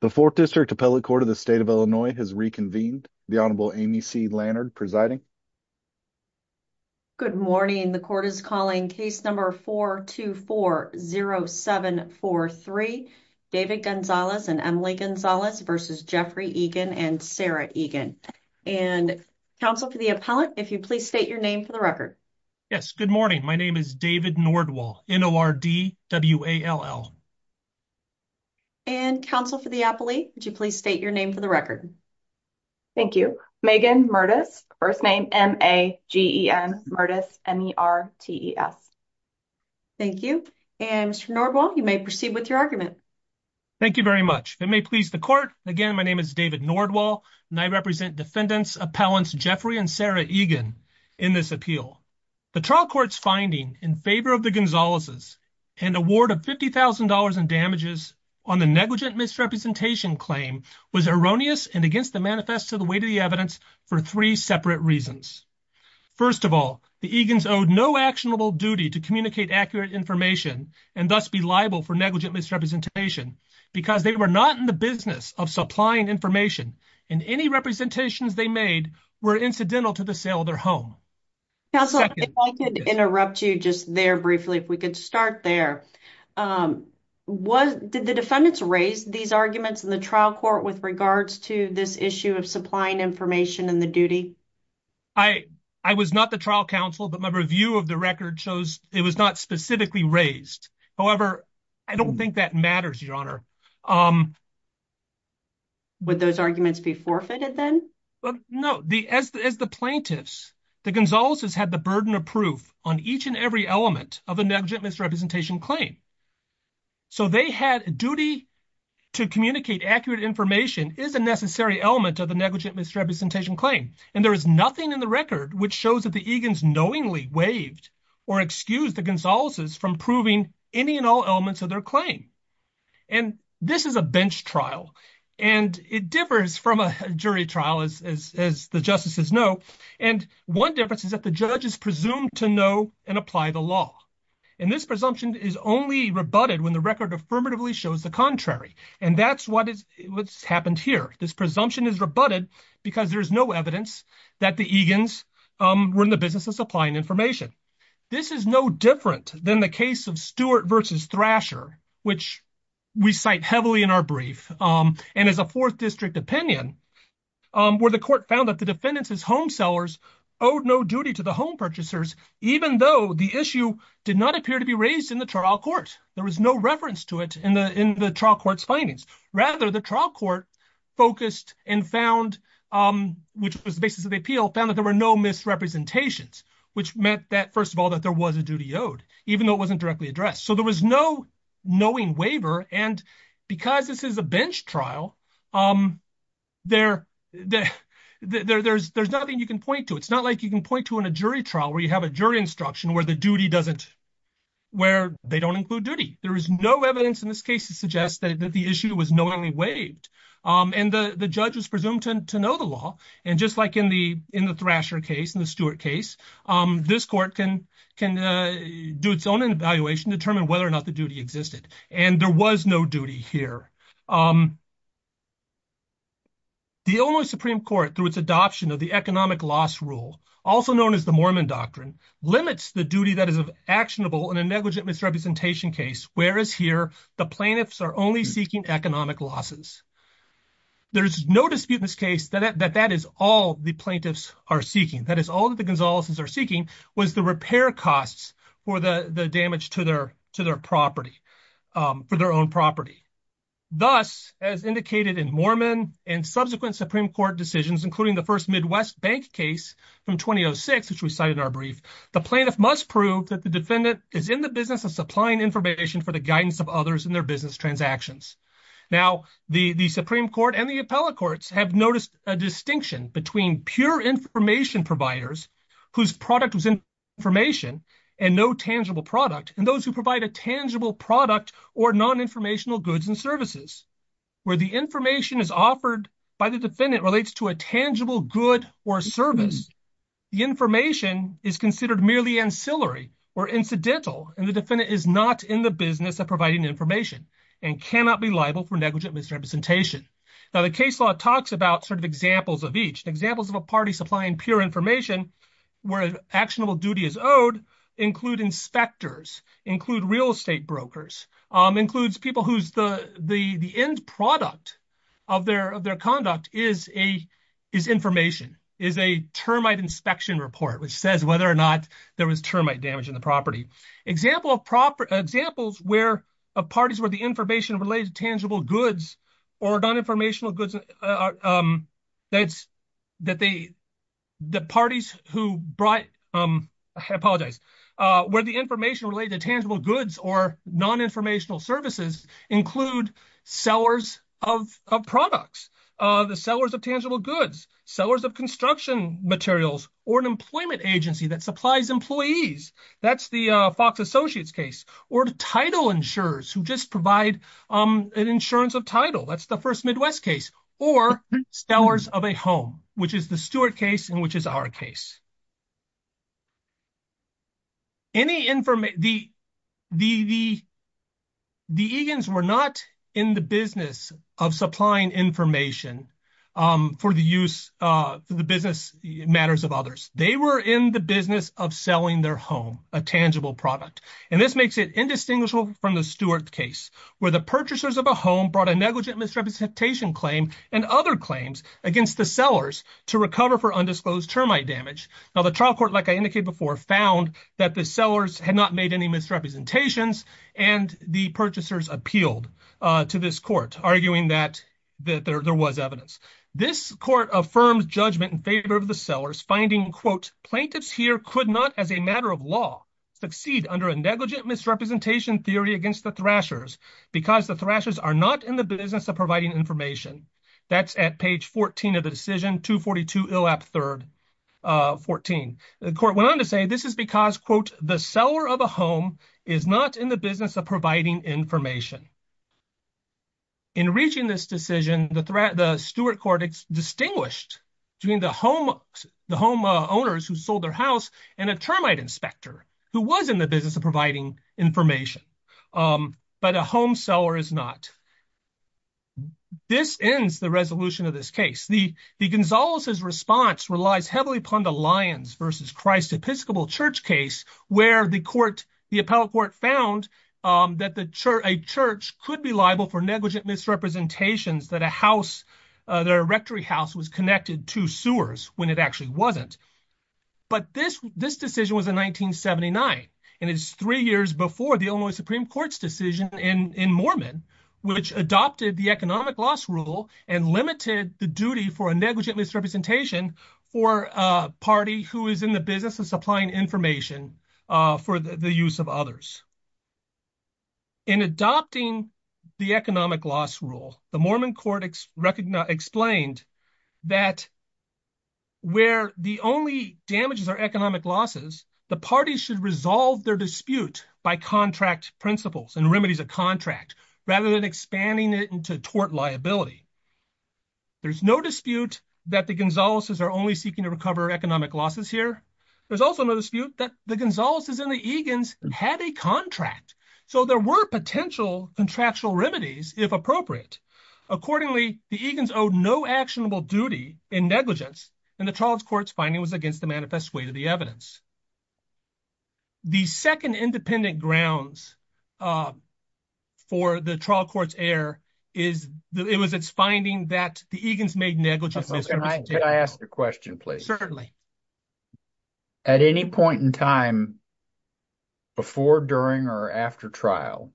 The 4th District Appellate Court of the State of Illinois has reconvened. The Honorable Amy C. Lannard presiding. Good morning. The court is calling case number 424-0743, David Gonzalez and Emily Gonzalez v. Jeffrey Egan and Sarah Egan. And counsel for the appellate, if you please state your name for the record. Yes, good morning. My name is David Nordwall, N-O-R-D-W-A-L-L. And counsel for the appellate, would you please state your name for the record. Thank you. Megan Mertes, first name M-A-G-E-N, Mertes, M-E-R-T-E-S. Thank you. And Mr. Nordwall, you may proceed with your argument. Thank you very much. If it may please the court, again, my name is David Nordwall, and I represent defendants Appellants Jeffrey and Sarah Egan in this appeal. The trial court's finding in favor of the Gonzalez's and award of $50,000 in damages on the negligent misrepresentation claim was erroneous and against the manifest to the weight of the evidence for three separate reasons. First of all, the Egan's owed no actionable duty to communicate accurate information and thus be liable for negligent misrepresentation because they were not in the business of supplying information and any representations they made were incidental to the sale of their home. Counselor, if I could interrupt you just there briefly, if we could start there. Did the defendants raise these arguments in the trial court with regards to this issue of supplying information in the duty? I was not the trial counsel, but my review of the record shows it was not specifically raised. However, I don't think that matters, Your Honor. Would those arguments be forfeited then? No. As the plaintiffs, the Gonzalez's had the burden of proof on each and every element of a negligent misrepresentation claim. So they had a duty to communicate accurate information is a necessary element of the negligent misrepresentation claim. And there is nothing in the record which shows that the Egan's knowingly waived or excused the Gonzalez's from proving any and all elements of their claim. And this is a bench trial, and it differs from a jury trial, as the justices know. And one difference is that the judge is presumed to know and apply the law. And this presumption is only rebutted when the record affirmatively shows the contrary. And that's what's happened here. This presumption is rebutted because there's no evidence that the Egan's were in the business of supplying information. This is no different than the case of Stewart versus Thrasher, which we cite heavily in our brief. And as a fourth district opinion, where the court found that the defendants as home sellers owed no duty to the home purchasers, even though the issue did not appear to be raised in the trial court. There was no reference to it in the trial court's findings. Rather, the trial court focused and found, which was the basis of the appeal, found that there were no misrepresentations, which meant that, first of all, that there was a duty owed, even though it wasn't directly addressed. So there was no knowing waiver. And because this is a bench trial, there's nothing you can point to. It's not like you can point to in a jury trial where you have a jury instruction where the duty doesn't, where they don't include duty. There is no evidence in this case to suggest that the issue was knowingly waived. And the judge was presumed to know the law. And just like in the Thrasher case and the Stewart case, this court can do its own evaluation to determine whether or not the duty existed. And there was no duty here. The Illinois Supreme Court, through its adoption of the economic loss rule, also known as the Mormon doctrine, limits the duty that is actionable in a negligent misrepresentation case, whereas here the plaintiffs are only seeking economic losses. There's no dispute in this case that that is all the plaintiffs are seeking. That is, all that the Gonzaleses are seeking was the repair costs for the damage to their property, for their own property. Thus, as indicated in Mormon and subsequent Supreme Court decisions, including the first Midwest bank case from 2006, which we cite in our brief, the plaintiff must prove that the defendant is in the business of supplying information for the guidance of others in their business transactions. Now, the Supreme Court and the appellate courts have noticed a distinction between pure information providers, whose product was information and no tangible product, and those who provide a tangible product or non-informational goods and services, where the information is offered by the defendant relates to a tangible good or service. The information is considered merely ancillary or incidental, and the defendant is not in the providing information and cannot be liable for negligent misrepresentation. Now, the case law talks about sort of examples of each. Examples of a party supplying pure information where actionable duty is owed include inspectors, include real estate brokers, includes people whose the end product of their conduct is information, is a termite inspection report, which says whether or not there was termite damage in the property. Examples of parties where the information related to tangible goods or non-informational goods, that's that the parties who brought, I apologize, where the information related to tangible goods or non-informational services include sellers of products, the sellers of tangible goods, sellers of construction materials, or an employment agency that supplies employees, that's the Fox Associates case, or title insurers who just provide an insurance of title, that's the first Midwest case, or sellers of a home, which is the Stewart case and which is our case. Any information, the Egan's were not in the business of supplying information for the use for the business matters of others. They were in the business of selling their home, a tangible product, and this makes it indistinguishable from the Stewart case, where the purchasers of a home brought a negligent misrepresentation claim and other claims against the sellers to recover for undisclosed termite damage. Now, the trial court, like I indicated before, found that the sellers had not made any misrepresentations and the purchasers appealed to this court, arguing that there was evidence. This court affirmed judgment in favor of the sellers, finding, quote, plaintiffs here could not, as a matter of law, succeed under a negligent misrepresentation theory against the thrashers because the thrashers are not in the business of providing information. That's at page 14 of the decision, 242 Illap 3rd, 14. The court went on to say this is because, quote, the seller of a home is not in the business of providing information. In reaching this decision, the Stewart court distinguished between the home owners who sold their house and a termite inspector who was in the business of providing information, but a home seller is not. This ends the resolution of this case. The Gonzales's response relies heavily upon the Lyons v. Christ Episcopal Church case, where the appellate court found that a church could be liable for negligent misrepresentations that a house, their rectory house, was connected to sewers when it actually wasn't. But this decision was in 1979, and it's three years before the Illinois Supreme Court's decision in Mormon, which adopted the economic loss rule and limited the duty for a negligent misrepresentation for a party who is in the business of supplying information for the use of others. In adopting the economic loss rule, the Mormon court explained that where the only damages are economic losses, the parties should resolve their dispute by contract principles and remedies of contract rather than expanding it into tort liability. There's no dispute that the Gonzales's are only seeking to recover economic losses here. There's also no dispute that the Gonzales's and the Egan's had a contract, so there were potential contractual remedies, if appropriate. Accordingly, the Egan's owed no actionable duty in negligence, and the trial court's finding was against the manifest way to the evidence. The second independent grounds for the trial court's error is it was its finding that the Egan's made negligence. Can I ask a question, please? Certainly. At any point in time, before, during, or after trial,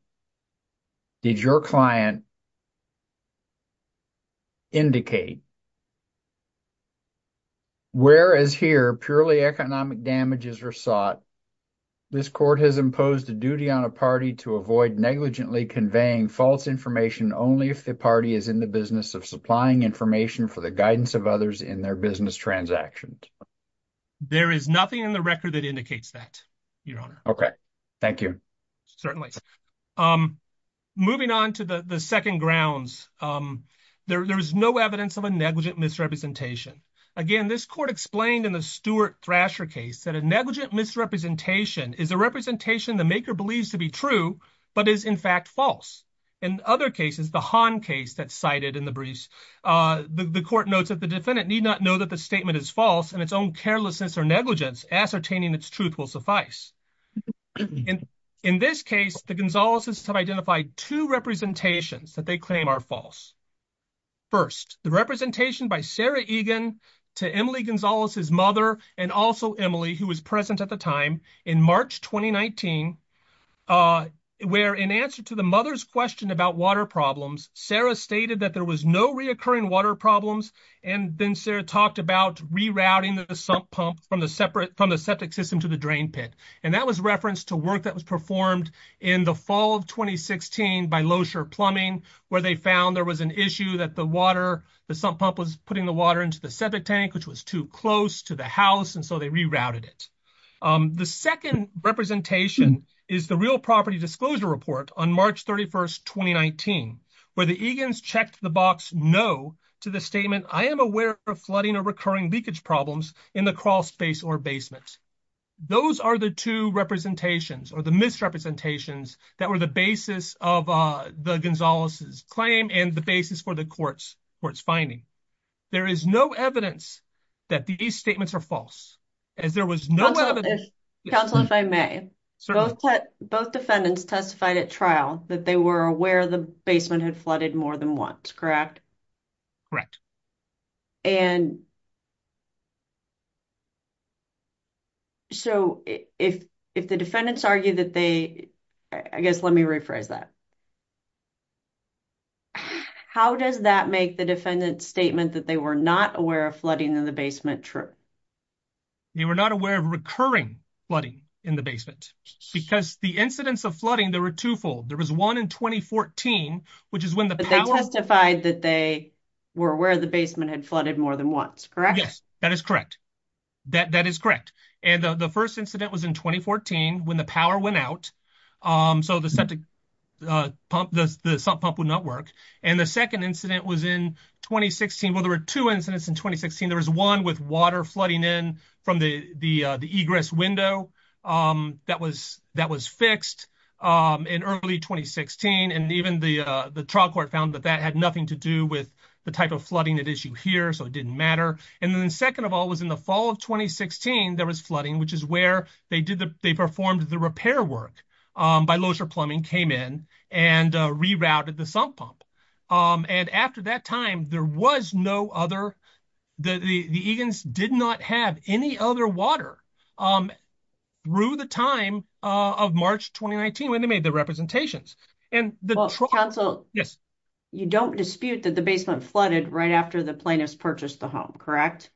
did your client indicate, whereas here purely economic damages are sought, this court has imposed a duty on a party to avoid negligently conveying false information only if the party is in the business of supplying information for the guidance of others in their business transactions? There is nothing in the record that indicates that, your honor. Okay, thank you. Certainly. Moving on to the second grounds, there is no evidence of a negligent misrepresentation. Again, this court explained in the Stuart Thrasher case that a negligent misrepresentation is a representation the maker believes to be true, but is in fact false. In other cases, the Hahn case that's cited in the briefs, the court notes that the defendant need not know that the statement is false, and its own carelessness or negligence ascertaining its truth will suffice. In this case, the Gonzalez's have identified two representations that they claim are false. First, the representation by Sarah Egan to Emily Gonzalez's mother, and also Emily, who was present at the time, in March 2019, where in answer to the mother's question about water problems, Sarah stated that there was no reoccurring water problems, and then Sarah talked about rerouting the sump pump from the septic system to the drain pit. And that was referenced to work that was performed in the fall of 2016 by Loescher Plumbing, where they found there was an issue that the water, the sump pump was putting the water into the septic tank, which was too close to the house, so they rerouted it. The second representation is the Real Property Disclosure Report on March 31, 2019, where the Egan's checked the box no to the statement, I am aware of flooding or recurring leakage problems in the crawl space or basement. Those are the two representations or the misrepresentations that were the basis of the Gonzalez's claim and the basis for the court's finding. There is no evidence that these statements are false, as there was no evidence. Counsel, if I may, both defendants testified at trial that they were aware the basement had flooded more than once, correct? Correct. And so if the defendants argue that they, I guess let me rephrase that, how does that make the defendant's statement that they were not aware of flooding in the basement true? They were not aware of recurring flooding in the basement, because the incidents of flooding, there were twofold. There was one in 2014, which is when the power testified that they were aware the basement had flooded more than once, correct? Yes, that is correct. That is correct. And the first incident was in 2014, when the power went out, so the sump pump would not work. And the second incident was in 2016. Well, there were two incidents in 2016. There was one with water flooding in from the egress window that was fixed in early 2016. And even the trial court found that that had nothing to do with the type of flooding at issue here, so it did not matter. And then the second of all was in the fall of 2016, there was flooding, which is where they performed the repair work by Loser Plumbing, came in and rerouted the sump pump. And after that time, there was no other, the Egan's did not have any other water through the time of March 2019, when they made the representations. Well, counsel, you don't dispute that the basement flooded right after the plaintiffs purchased the home, correct?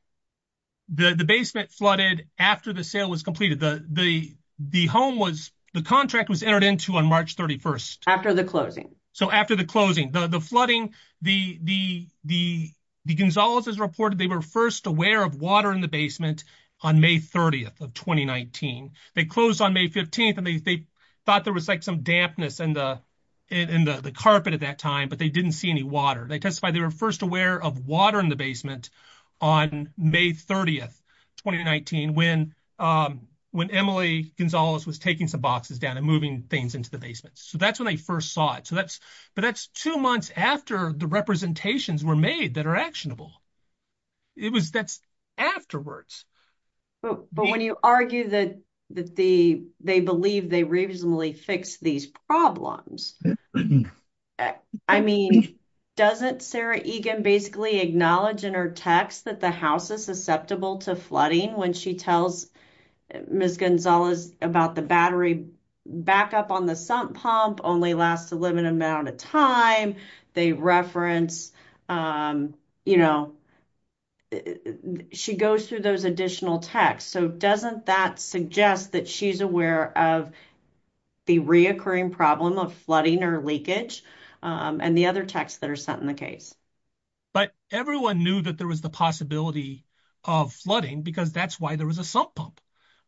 The basement flooded after the sale was completed. The home was, the contract was entered into on March 31st. After the closing. So after the closing, the flooding, the Gonzaleses reported they were first aware of water in the basement on May 30th of 2019. They closed on May 15th, and they thought there was like some dampness in the carpet at that time, but they didn't see any water. They testified they were first aware of water in the basement on May 30th, 2019, when Emily Gonzales was taking some boxes down and moving things into the basement. So that's when they first saw it. So that's, but that's two months after the representations were made that are actionable. It was, that's afterwards. But when you argue that they believe they reasonably fixed these problems, I mean, doesn't Sarah Egan basically acknowledge in her text that the house is susceptible to flooding when she tells Ms. Gonzales about the battery backup on the sump pump only lasts a limited amount of time. They reference, you know, she goes through those additional texts. So doesn't that suggest that she's aware of the reoccurring problem of flooding or leakage and the other texts that are sent in the case? But everyone knew that there was the possibility of flooding because that's why there was a sump pump.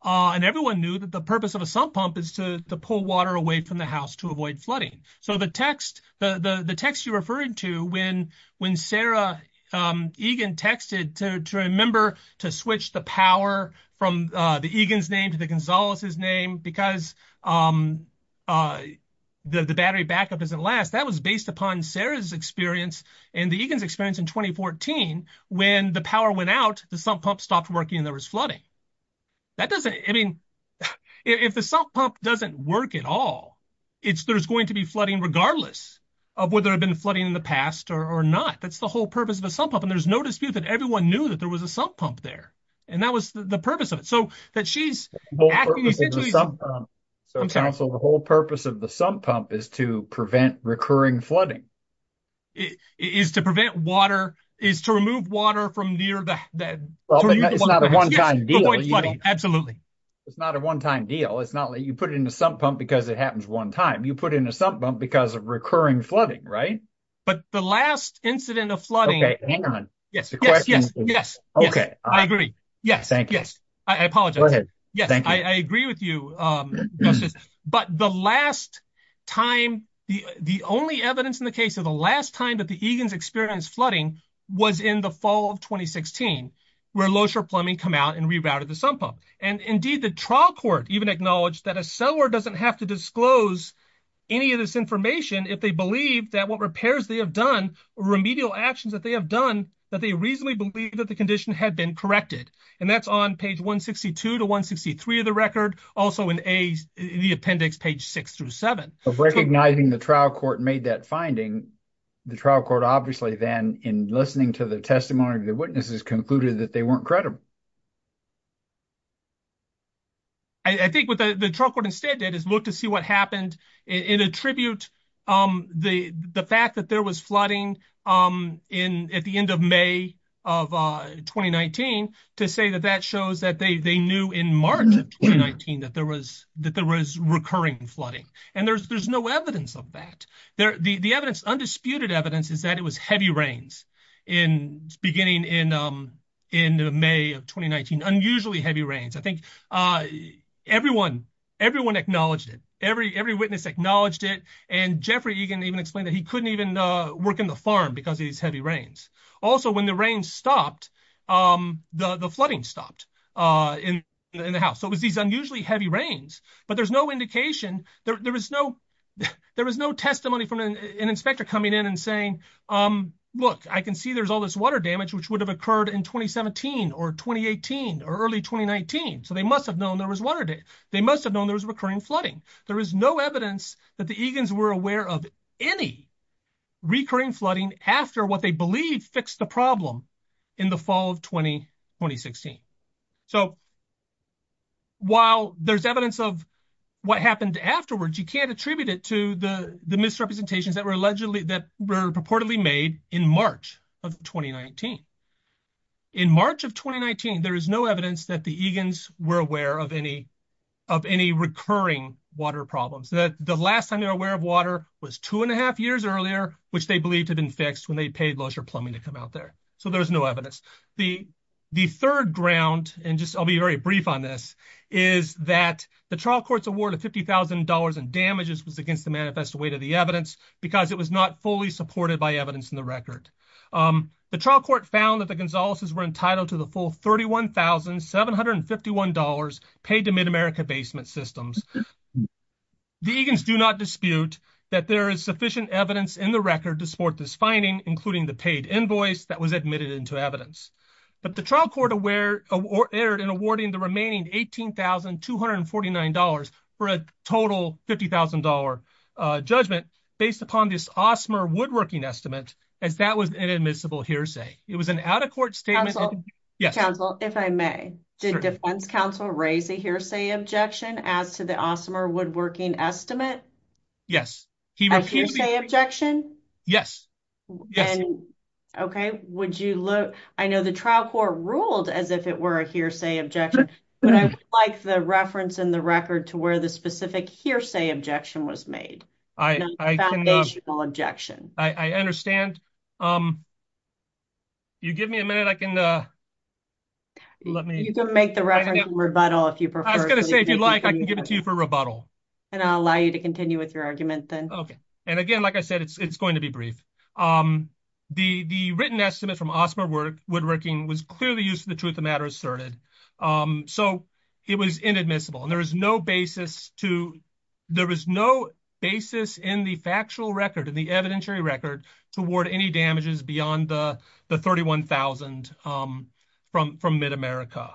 And everyone knew that the purpose of a sump pump is to pull water away from the house to avoid flooding. So the text, the text you're referring to when Sarah Egan texted to remember to switch the power from the Egan's name to the Gonzales' name because the battery backup doesn't last, that was based upon Sarah's experience and the Egan's experience in 2014 when the power went out, the sump pump stopped working and there was flooding. That doesn't, I mean, if the sump pump doesn't work at all, there's going to be flooding regardless of whether it had been flooding in the past or not. That's the whole purpose of a sump pump. And there's no dispute that everyone knew that there was a sump pump there. And that was the purpose of it. So that she's... So counsel, the whole purpose of the sump pump is to prevent recurring flooding. Is to prevent water, is to remove water from near the... It's not a one-time deal. Absolutely. It's not a one-time deal. It's not like you put it in the sump pump because it happens one time. You put it in a sump pump because of recurring flooding, right? But the last incident of flooding... Okay, hang on. Yes, yes, yes, yes. Okay. I agree. Yes, yes. I apologize. Yes, I agree with you, Justice. But the last time, the only evidence in the case of the last time that the Egan's experienced flooding was in the fall of 2016, where Losher Plumbing come out and rerouted the sump pump. And indeed the trial court even acknowledged that a seller doesn't have to disclose any of this information if they believe that what repairs they have done, remedial actions that they have done, that they reasonably believe that the condition had been corrected. And that's on page 162 to 163 of the record, also in the appendix page six through seven. Of recognizing the trial court made that finding, the trial court obviously then in listening to the testimony of the witnesses concluded that they weren't credible. I think what the trial court instead did is look to see what happened and attribute the fact that there was flooding at the end of May of 2019, to say that that shows that they knew in March of 2019 that there was recurring flooding. And there's no evidence of that. The undisputed evidence is that it was heavy rains beginning in May of 2019, unusually heavy rains. I think everyone acknowledged it. Every witness acknowledged it. And Jeffrey Egan even explained that he couldn't even work in the farm because of these heavy rains. Also, when the rains stopped, the flooding stopped in the house. So it was these unusually heavy rains, but there's no indication. There was no testimony from an inspector coming in and saying, look, I can see there's all this water damage, which would have occurred in 2017 or 2018 or early 2019. So they must have known there was water. They must have known there was recurring flooding. There is no evidence that the Egan's were aware of any recurring flooding after what they believe fixed the problem in the fall of 2016. So while there's evidence of what happened afterwards, you can't attribute it to the misrepresentations that were allegedly, that were purportedly made in March of 2019. In March of 2019, there is no evidence that the Egan's were aware of any of any recurring water problems. The last time they were aware of water was two and a half years earlier, which they believed had been fixed when they paid Losher Plumbing to come out there. So there's no evidence. The third ground, and just I'll be very brief on this, is that the trial court's award of $50,000 in damages was against the manifest weight of the evidence because it was not fully supported by evidence in the record. The trial court found that the Gonzalez's were entitled to the full $31,751 paid to Mid-America basement systems. The Egan's do not dispute that there is sufficient evidence in the record to support this finding, including the paid invoice that was admitted into evidence. But the trial court erred in awarding the remaining $18,249 for a total $50,000 judgment based upon this Osmer Woodworking Estimate, as that was an admissible hearsay. It was an out-of-court statement. Counsel, if I may, did defense counsel raise a hearsay objection as to the Osmer Woodworking Estimate? Yes. A hearsay objection? Yes. Okay. Would you look, I know the trial court ruled as if it were a hearsay objection, but I would like the reference in the record to where the specific hearsay objection was made. Foundational objection. I understand. You give me a minute, I can, let me. You can make the reference in rebuttal if you prefer. I was going to say, if you'd like, I can give it to you for rebuttal. And I'll allow you to continue with your argument then. Okay. And again, like I said, it's going to be brief. The written estimate from Osmer Woodworking was clearly used for the truth of the matter asserted. So it was inadmissible. And there is no basis to, there is no basis in the factual record, in the evidentiary record, to award any damages beyond the $31,000 from MidAmerica.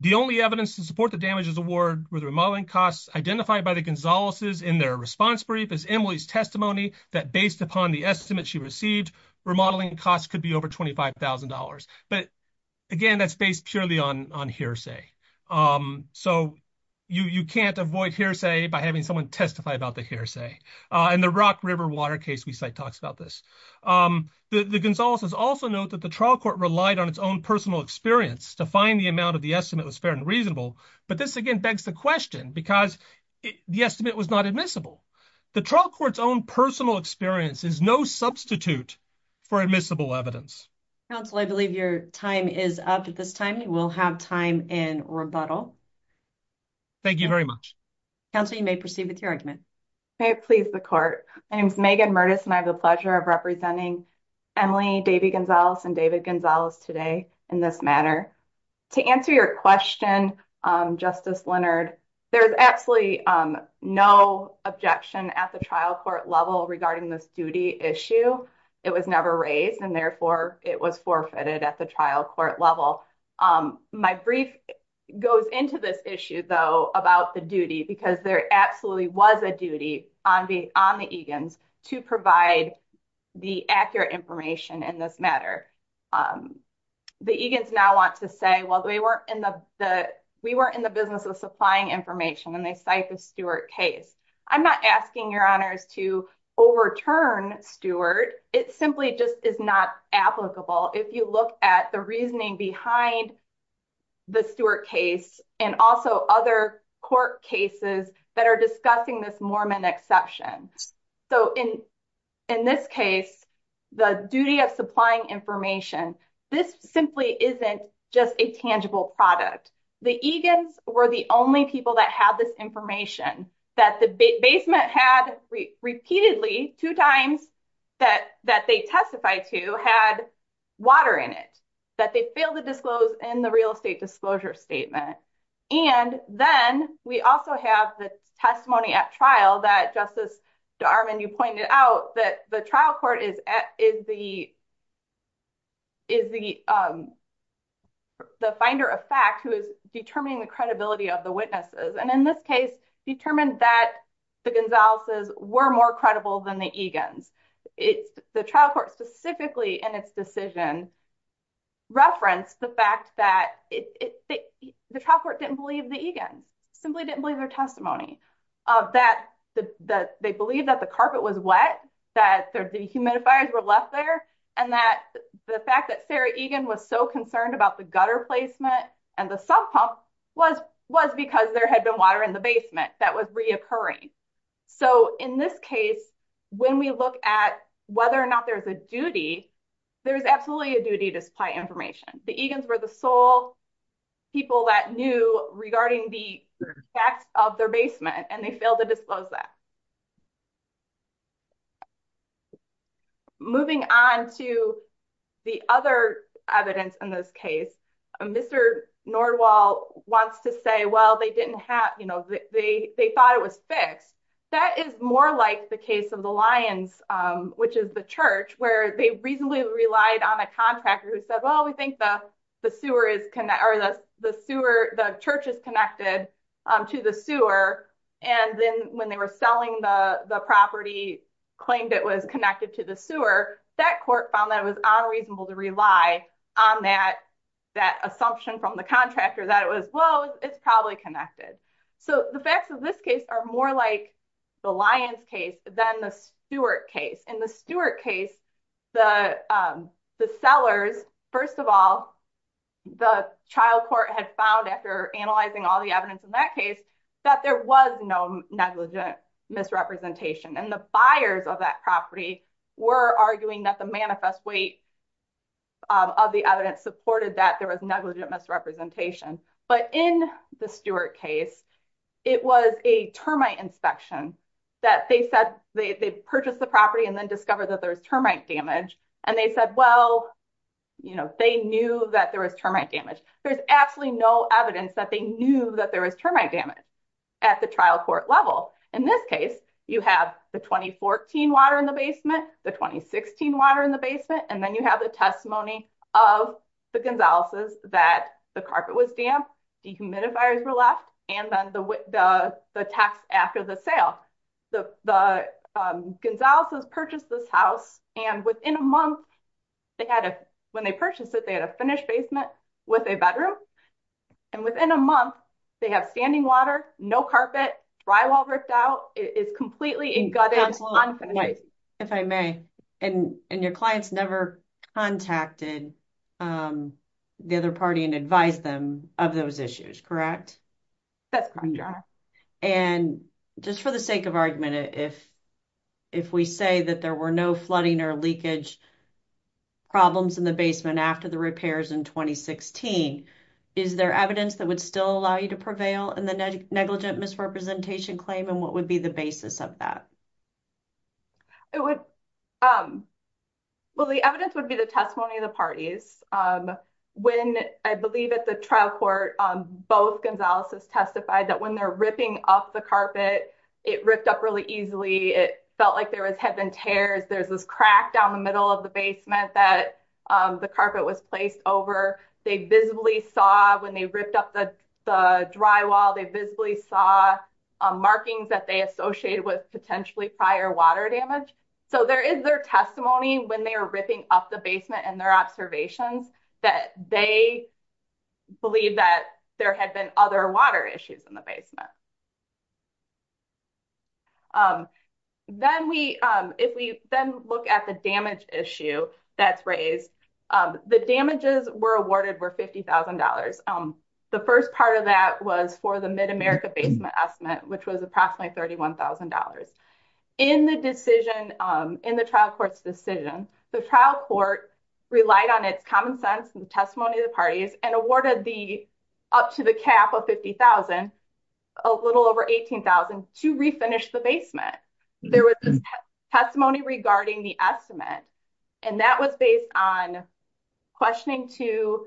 The only evidence to support the damages award were the remodeling costs identified by the that based upon the estimate she received, remodeling costs could be over $25,000. But again, that's based purely on hearsay. So you can't avoid hearsay by having someone testify about the hearsay. And the Rock River Water case we cite talks about this. The Gonzaleses also note that the trial court relied on its own personal experience to find the amount of the estimate was fair and reasonable. But this again begs the question because the estimate was not admissible. The trial court's own personal experience is no substitute for admissible evidence. Counsel, I believe your time is up at this time. You will have time in rebuttal. Thank you very much. Counsel, you may proceed with your argument. May it please the court. My name is Megan Mertes and I have the pleasure of representing Emily Davy Gonzales and David Gonzales today in this matter. To answer your question, Justice Leonard, there's absolutely no objection at the trial court level regarding this duty issue. It was never raised and therefore it was forfeited at the trial court level. My brief goes into this issue though about the duty because there absolutely was a duty on the on the Egan's to provide the accurate information in this matter. The Egan's now want to say, well, we weren't in the business of supplying information and they cite the Stewart case. I'm not asking your honors to overturn Stewart. It simply just is not applicable if you look at the reasoning behind the Stewart case and also other court cases that are discussing this Mormon exception. In this case, the duty of supplying information, this simply isn't just a tangible product. The Egan's were the only people that had this information that the basement had repeatedly two times that they testified to had water in it, that they failed to disclose in the real estate disclosure statement. And then we also have the testimony at trial that Justice Darvin, you pointed out that the trial court is the finder of fact who is determining the credibility of the witnesses. And in this case, determined that the Gonzalez's were more credible than the Egan's. The trial specifically in its decision referenced the fact that the trial court didn't believe the Egan's, simply didn't believe their testimony of that, that they believe that the carpet was wet, that the humidifiers were left there. And that the fact that Sarah Egan was so concerned about the gutter placement and the sub pump was because there had been water in the basement that was occurring. So in this case, when we look at whether or not there's a duty, there's absolutely a duty to supply information. The Egan's were the sole people that knew regarding the facts of their basement and they failed to disclose that. Moving on to the other evidence in this case, Mr. Nordwall wants to say, well, they didn't have, they thought it was fixed. That is more like the case of the Lyons, which is the church where they reasonably relied on a contractor who said, well, we think the church is connected to the sewer. And then when they were selling the property, claimed it was connected to the sewer, that court found that it was unreasonable to rely on that assumption from the contractor that it was, well, it's probably connected. So the facts of this case are more like the Lyons case than the Stewart case. In the Stewart case, the sellers, first of all, the trial court had found after analyzing all the evidence in that case, that there was no negligent misrepresentation. And the buyers of that property were arguing that the manifest weight of the evidence supported that there was negligent misrepresentation. But in the Stewart case, it was a termite inspection that they said they purchased the property and then discovered that there was termite damage. And they said, well, you know, they knew that there was termite damage. There's absolutely no evidence that they knew that there was termite damage at the trial court level. In this case, you have the 2014 water in the basement, the 2016 water in the basement, and then you have the testimony of the Gonzaleses that the carpet was damp, dehumidifiers were left, and then the tax after the sale. The Gonzaleses purchased this house, and within a month, they had a, when they purchased it, they had a finished basement with a bedroom. And within a month, they have standing water, no carpet, drywall ripped out, it is completely gutted. If I may, and your clients never contacted the other party and advised them of those issues, correct? That's correct. And just for the sake of argument, if we say that there were no flooding or leakage problems in the basement after the repairs in 2016, is there evidence that would still allow you to prevail in the negligent misrepresentation claim, and what would be the basis of that? It would, well, the evidence would be the testimony of the parties. When I believe at the trial court, both Gonzaleses testified that when they're ripping up the carpet, it ripped up really easily. It felt like there had been tears. There's this crack down the middle of the basement that the carpet was placed over. They visibly saw when they ripped up the drywall, they visibly saw markings that they associated with potentially prior water damage. So there is their testimony when they are ripping up the basement and their observations that they believe that there had been other water issues in the basement. Then we, if we then look at the damage issue that's raised, the damages were awarded were $50,000. The first part of that was for the Mid-America Basement Estimate, which was approximately $31,000. In the decision, in the trial court's decision, the trial court relied on its common sense and the testimony of the parties and awarded the, up to the cap of $50,000, a little over $18,000 to refinish the basement. There was this testimony regarding the estimate and that was based on questioning to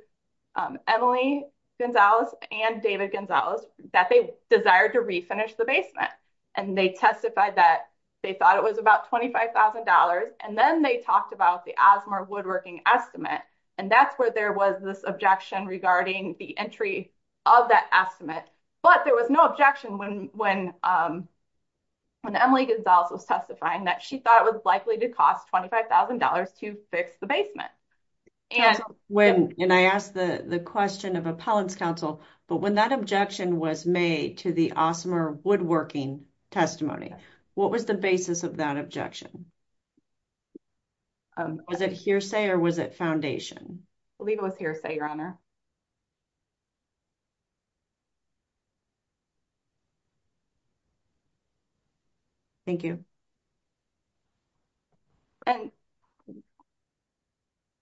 Emily Gonzales and David Gonzales that they desired to refinish the basement. And they testified that they thought it was about $25,000. And then they talked about the Asmar Woodworking Estimate. And that's where there was this objection regarding the entry of that estimate. But there was no objection when Emily Gonzales was testifying that she thought it was likely to cost $25,000 to fix the basement. And when, and I asked the question of appellants counsel, but when that objection was made to the Asmar Woodworking testimony, what was the basis of that objection? Was it hearsay or was it Leave it with hearsay, Your Honor. Thank you. And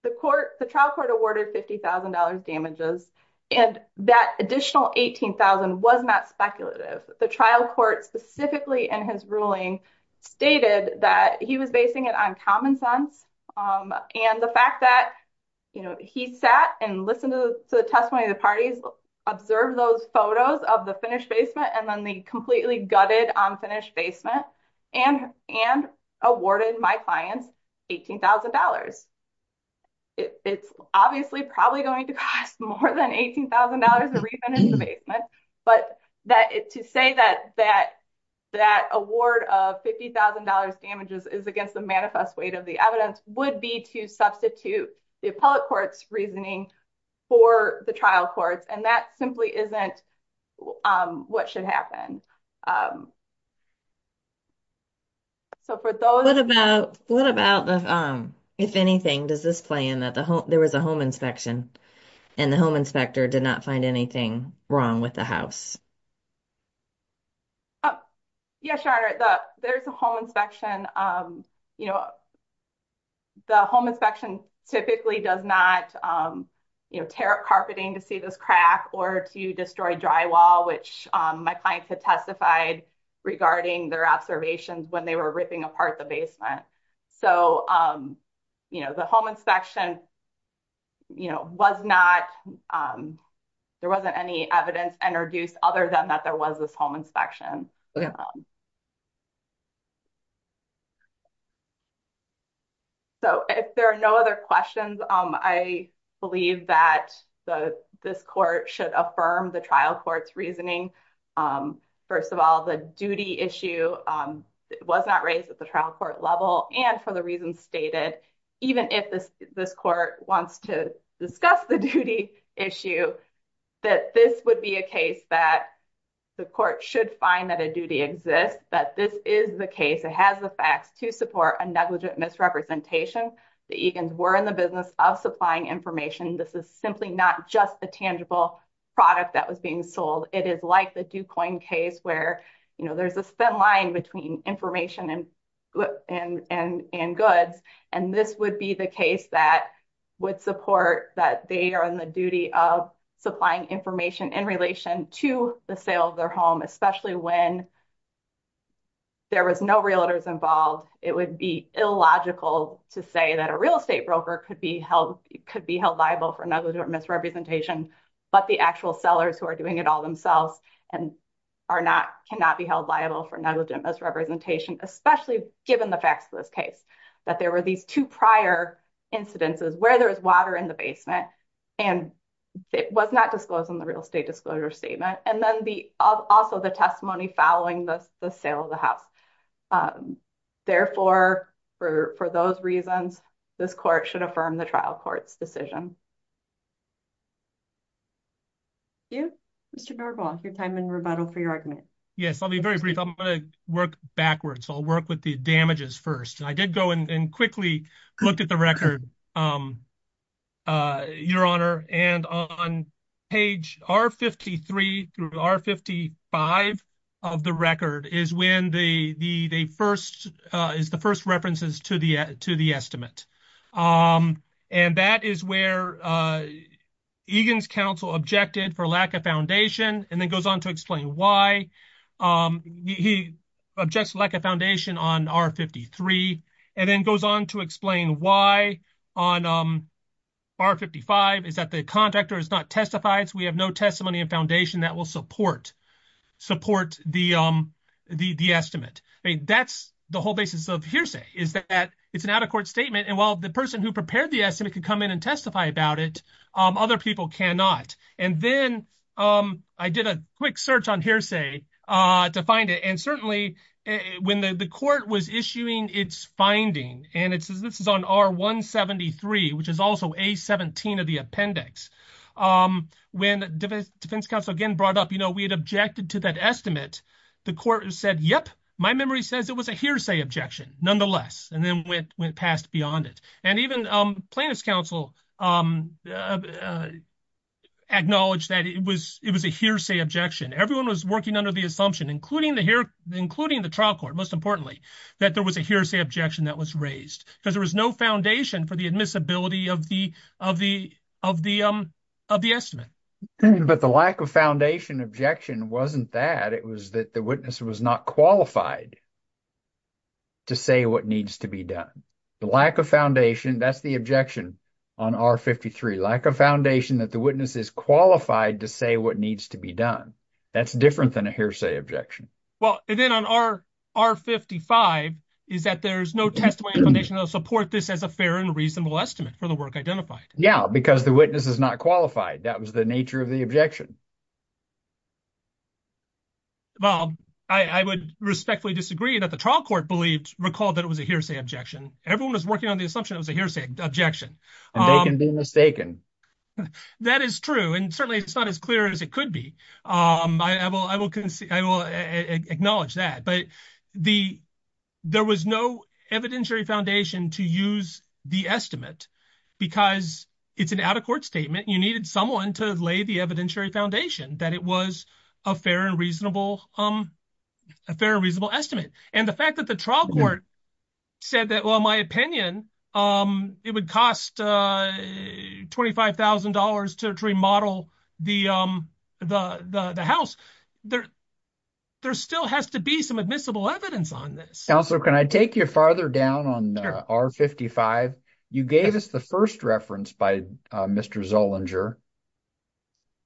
the court, the trial court awarded $50,000 damages and that additional $18,000 was not speculative. The trial court specifically in his ruling stated that he was basing it on common sense. And the fact that, you know, he sat and listened to the testimony of the parties, observed those photos of the finished basement, and then they completely gutted on finished basement and awarded my clients $18,000. It's obviously probably going to cost more than $18,000 to refinish the basement. But to say that that award of $50,000 damages is against the manifest weight of the evidence would be to substitute the appellate court's reasoning for the trial courts. And that simply isn't what should happen. So for those... What about, if anything, does this play in that there was a home inspection and the home inspector did not find anything wrong with the house? Yes, Your Honor. There's a home inspection. You know, the home inspection typically does not tear up carpeting to see this crack or to destroy drywall, which my clients had testified regarding their observations when they were ripping apart the basement. So, you know, home inspection, you know, there wasn't any evidence introduced other than that there was this home inspection. So if there are no other questions, I believe that this court should affirm the trial court's reasoning. First of all, the duty issue was not raised at the trial court level. And for the reasons stated, even if this court wants to discuss the duty issue, that this would be a case that the court should find that a duty exists, that this is the case. It has the facts to support a negligent misrepresentation. The Egans were in the business of supplying information. This is simply not just a tangible product that was being sold. It is like the Ducoin case where, you know, there's a thin line between information and goods. And this would be the case that would support that they are on the duty of supplying information in relation to the sale of their home, especially when there was no realtors involved. It would be illogical to say that a real estate broker could be held liable for negligent misrepresentation, but the actual sellers who are doing it all themselves cannot be held liable for negligent misrepresentation, especially given the facts of this case, that there were these two prior incidences where there was water in the basement, and it was not disclosed in the real estate disclosure statement, and then also the testimony following the sale of the house. Therefore, for those reasons, this court should affirm the trial court's decision. Thank you. Mr. Bergwald, your time in rebuttal for your argument. Yes, I'll be very brief. I'm going to work backwards. I'll work with the damages first. I did go and quickly looked at the record, Your Honor, and on page R53 through R55 of the record is the first references to the estimate, and that is where Egan's counsel objected for lack of foundation and then goes on to explain why. He objects lack of foundation on R53 and then goes on to explain why on R55 is that the contractor has not testimony and foundation that will support the estimate. That's the whole basis of hearsay, is that it's an out-of-court statement, and while the person who prepared the estimate could come in and testify about it, other people cannot. Then I did a quick search on hearsay to find it, and certainly when the court was issuing its finding, and this is on R173, which is also A17 of the appendix, when defense counsel again brought up, you know, we had objected to that estimate, the court said, yep, my memory says it was a hearsay objection nonetheless, and then went past beyond it. Even plaintiff's counsel acknowledged that it was a hearsay objection. Everyone was working under the assumption, including the trial court, most importantly, that there was a hearsay objection that was raised because there was foundation for the admissibility of the estimate. But the lack of foundation objection wasn't that. It was that the witness was not qualified to say what needs to be done. The lack of foundation, that's the objection on R53, lack of foundation that the witness is qualified to say what needs to be done. That's different than a hearsay objection. Well, and then on R55, is that there's no testimony in the foundation that'll support this as a fair and reasonable estimate for the work identified. Yeah, because the witness is not qualified. That was the nature of the objection. Well, I would respectfully disagree that the trial court recalled that it was a hearsay objection. Everyone was working on the assumption it was a hearsay objection. And they can be mistaken. That is true. And certainly it's not as clear as it could be. I will acknowledge that. But there was no evidentiary foundation to use the estimate because it's an out-of-court statement. You needed someone to lay the evidentiary foundation that it was a fair and reasonable estimate. And the fact that the trial court said that, well, in my opinion, it would cost $25,000 to remodel the house. There still has to be some admissible evidence on this. Counselor, can I take you farther down on R55? You gave us the first reference by Mr. Zollinger.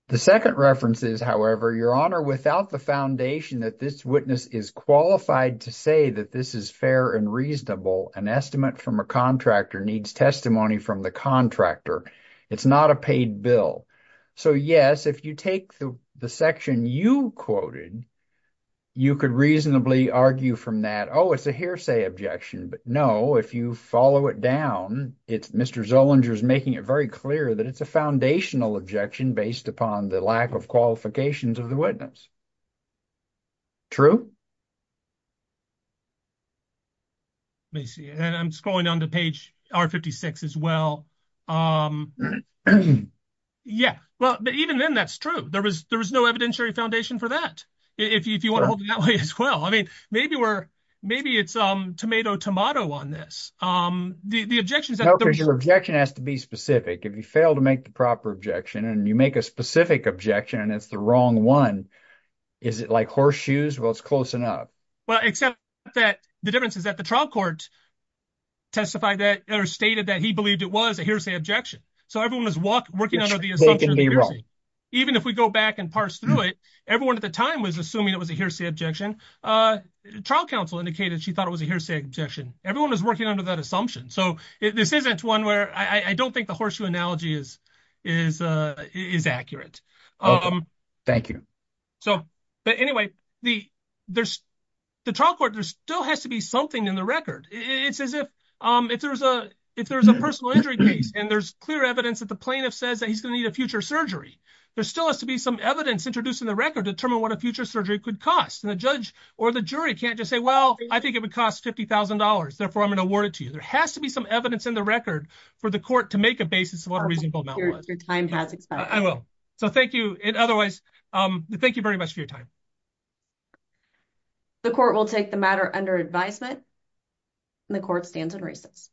The second reference is, however, Your Honor, without the foundation that this witness is qualified to say that this is fair and reasonable, an estimate from a contractor needs testimony from the contractor. It's not a paid bill. So, yes, if you take the section you quoted, you could reasonably argue from that, oh, it's a hearsay objection. But no, if you follow it down, Mr. Zollinger is making it very clear that it's a foundational objection based upon the lack of qualifications of the witness. True? Let me see. And I'm scrolling down to page R56 as well. Yeah. Well, even then, that's true. There was no evidentiary foundation for that, if you want to hold it that way as well. I mean, maybe it's tomato-tomato on this. The objection is that- No, because your objection has to be specific. If you fail to make the proper objection and you make a specific objection and it's the wrong one, is it like horseshoes? Well, it's close enough. Well, except that the difference is that the trial court testified that or stated that he believed it was a hearsay objection. So everyone was working under the assumption of hearsay. Even if we go back and parse through it, everyone at the time was assuming it was a hearsay objection. Trial counsel indicated she thought it was a hearsay objection. Everyone was working under that assumption. So this isn't one where I don't think the horseshoe analogy is accurate. Thank you. But anyway, the trial court, there still has to be something in the record. It's as if there was a personal injury case and there's clear evidence that the plaintiff says that he's going to need a future surgery. There still has to be some evidence introduced in the record to determine what a future surgery could cost. And the judge or the jury can't just say, well, I think it would cost $50,000. Therefore, I'm going to award it to you. There has to be some evidence in the record for the court to make a basis of what a reasonable amount was. Your time has expired. I will. So thank you. And otherwise, thank you very much for your time. The court will take the matter under advisement and the court stands in recess.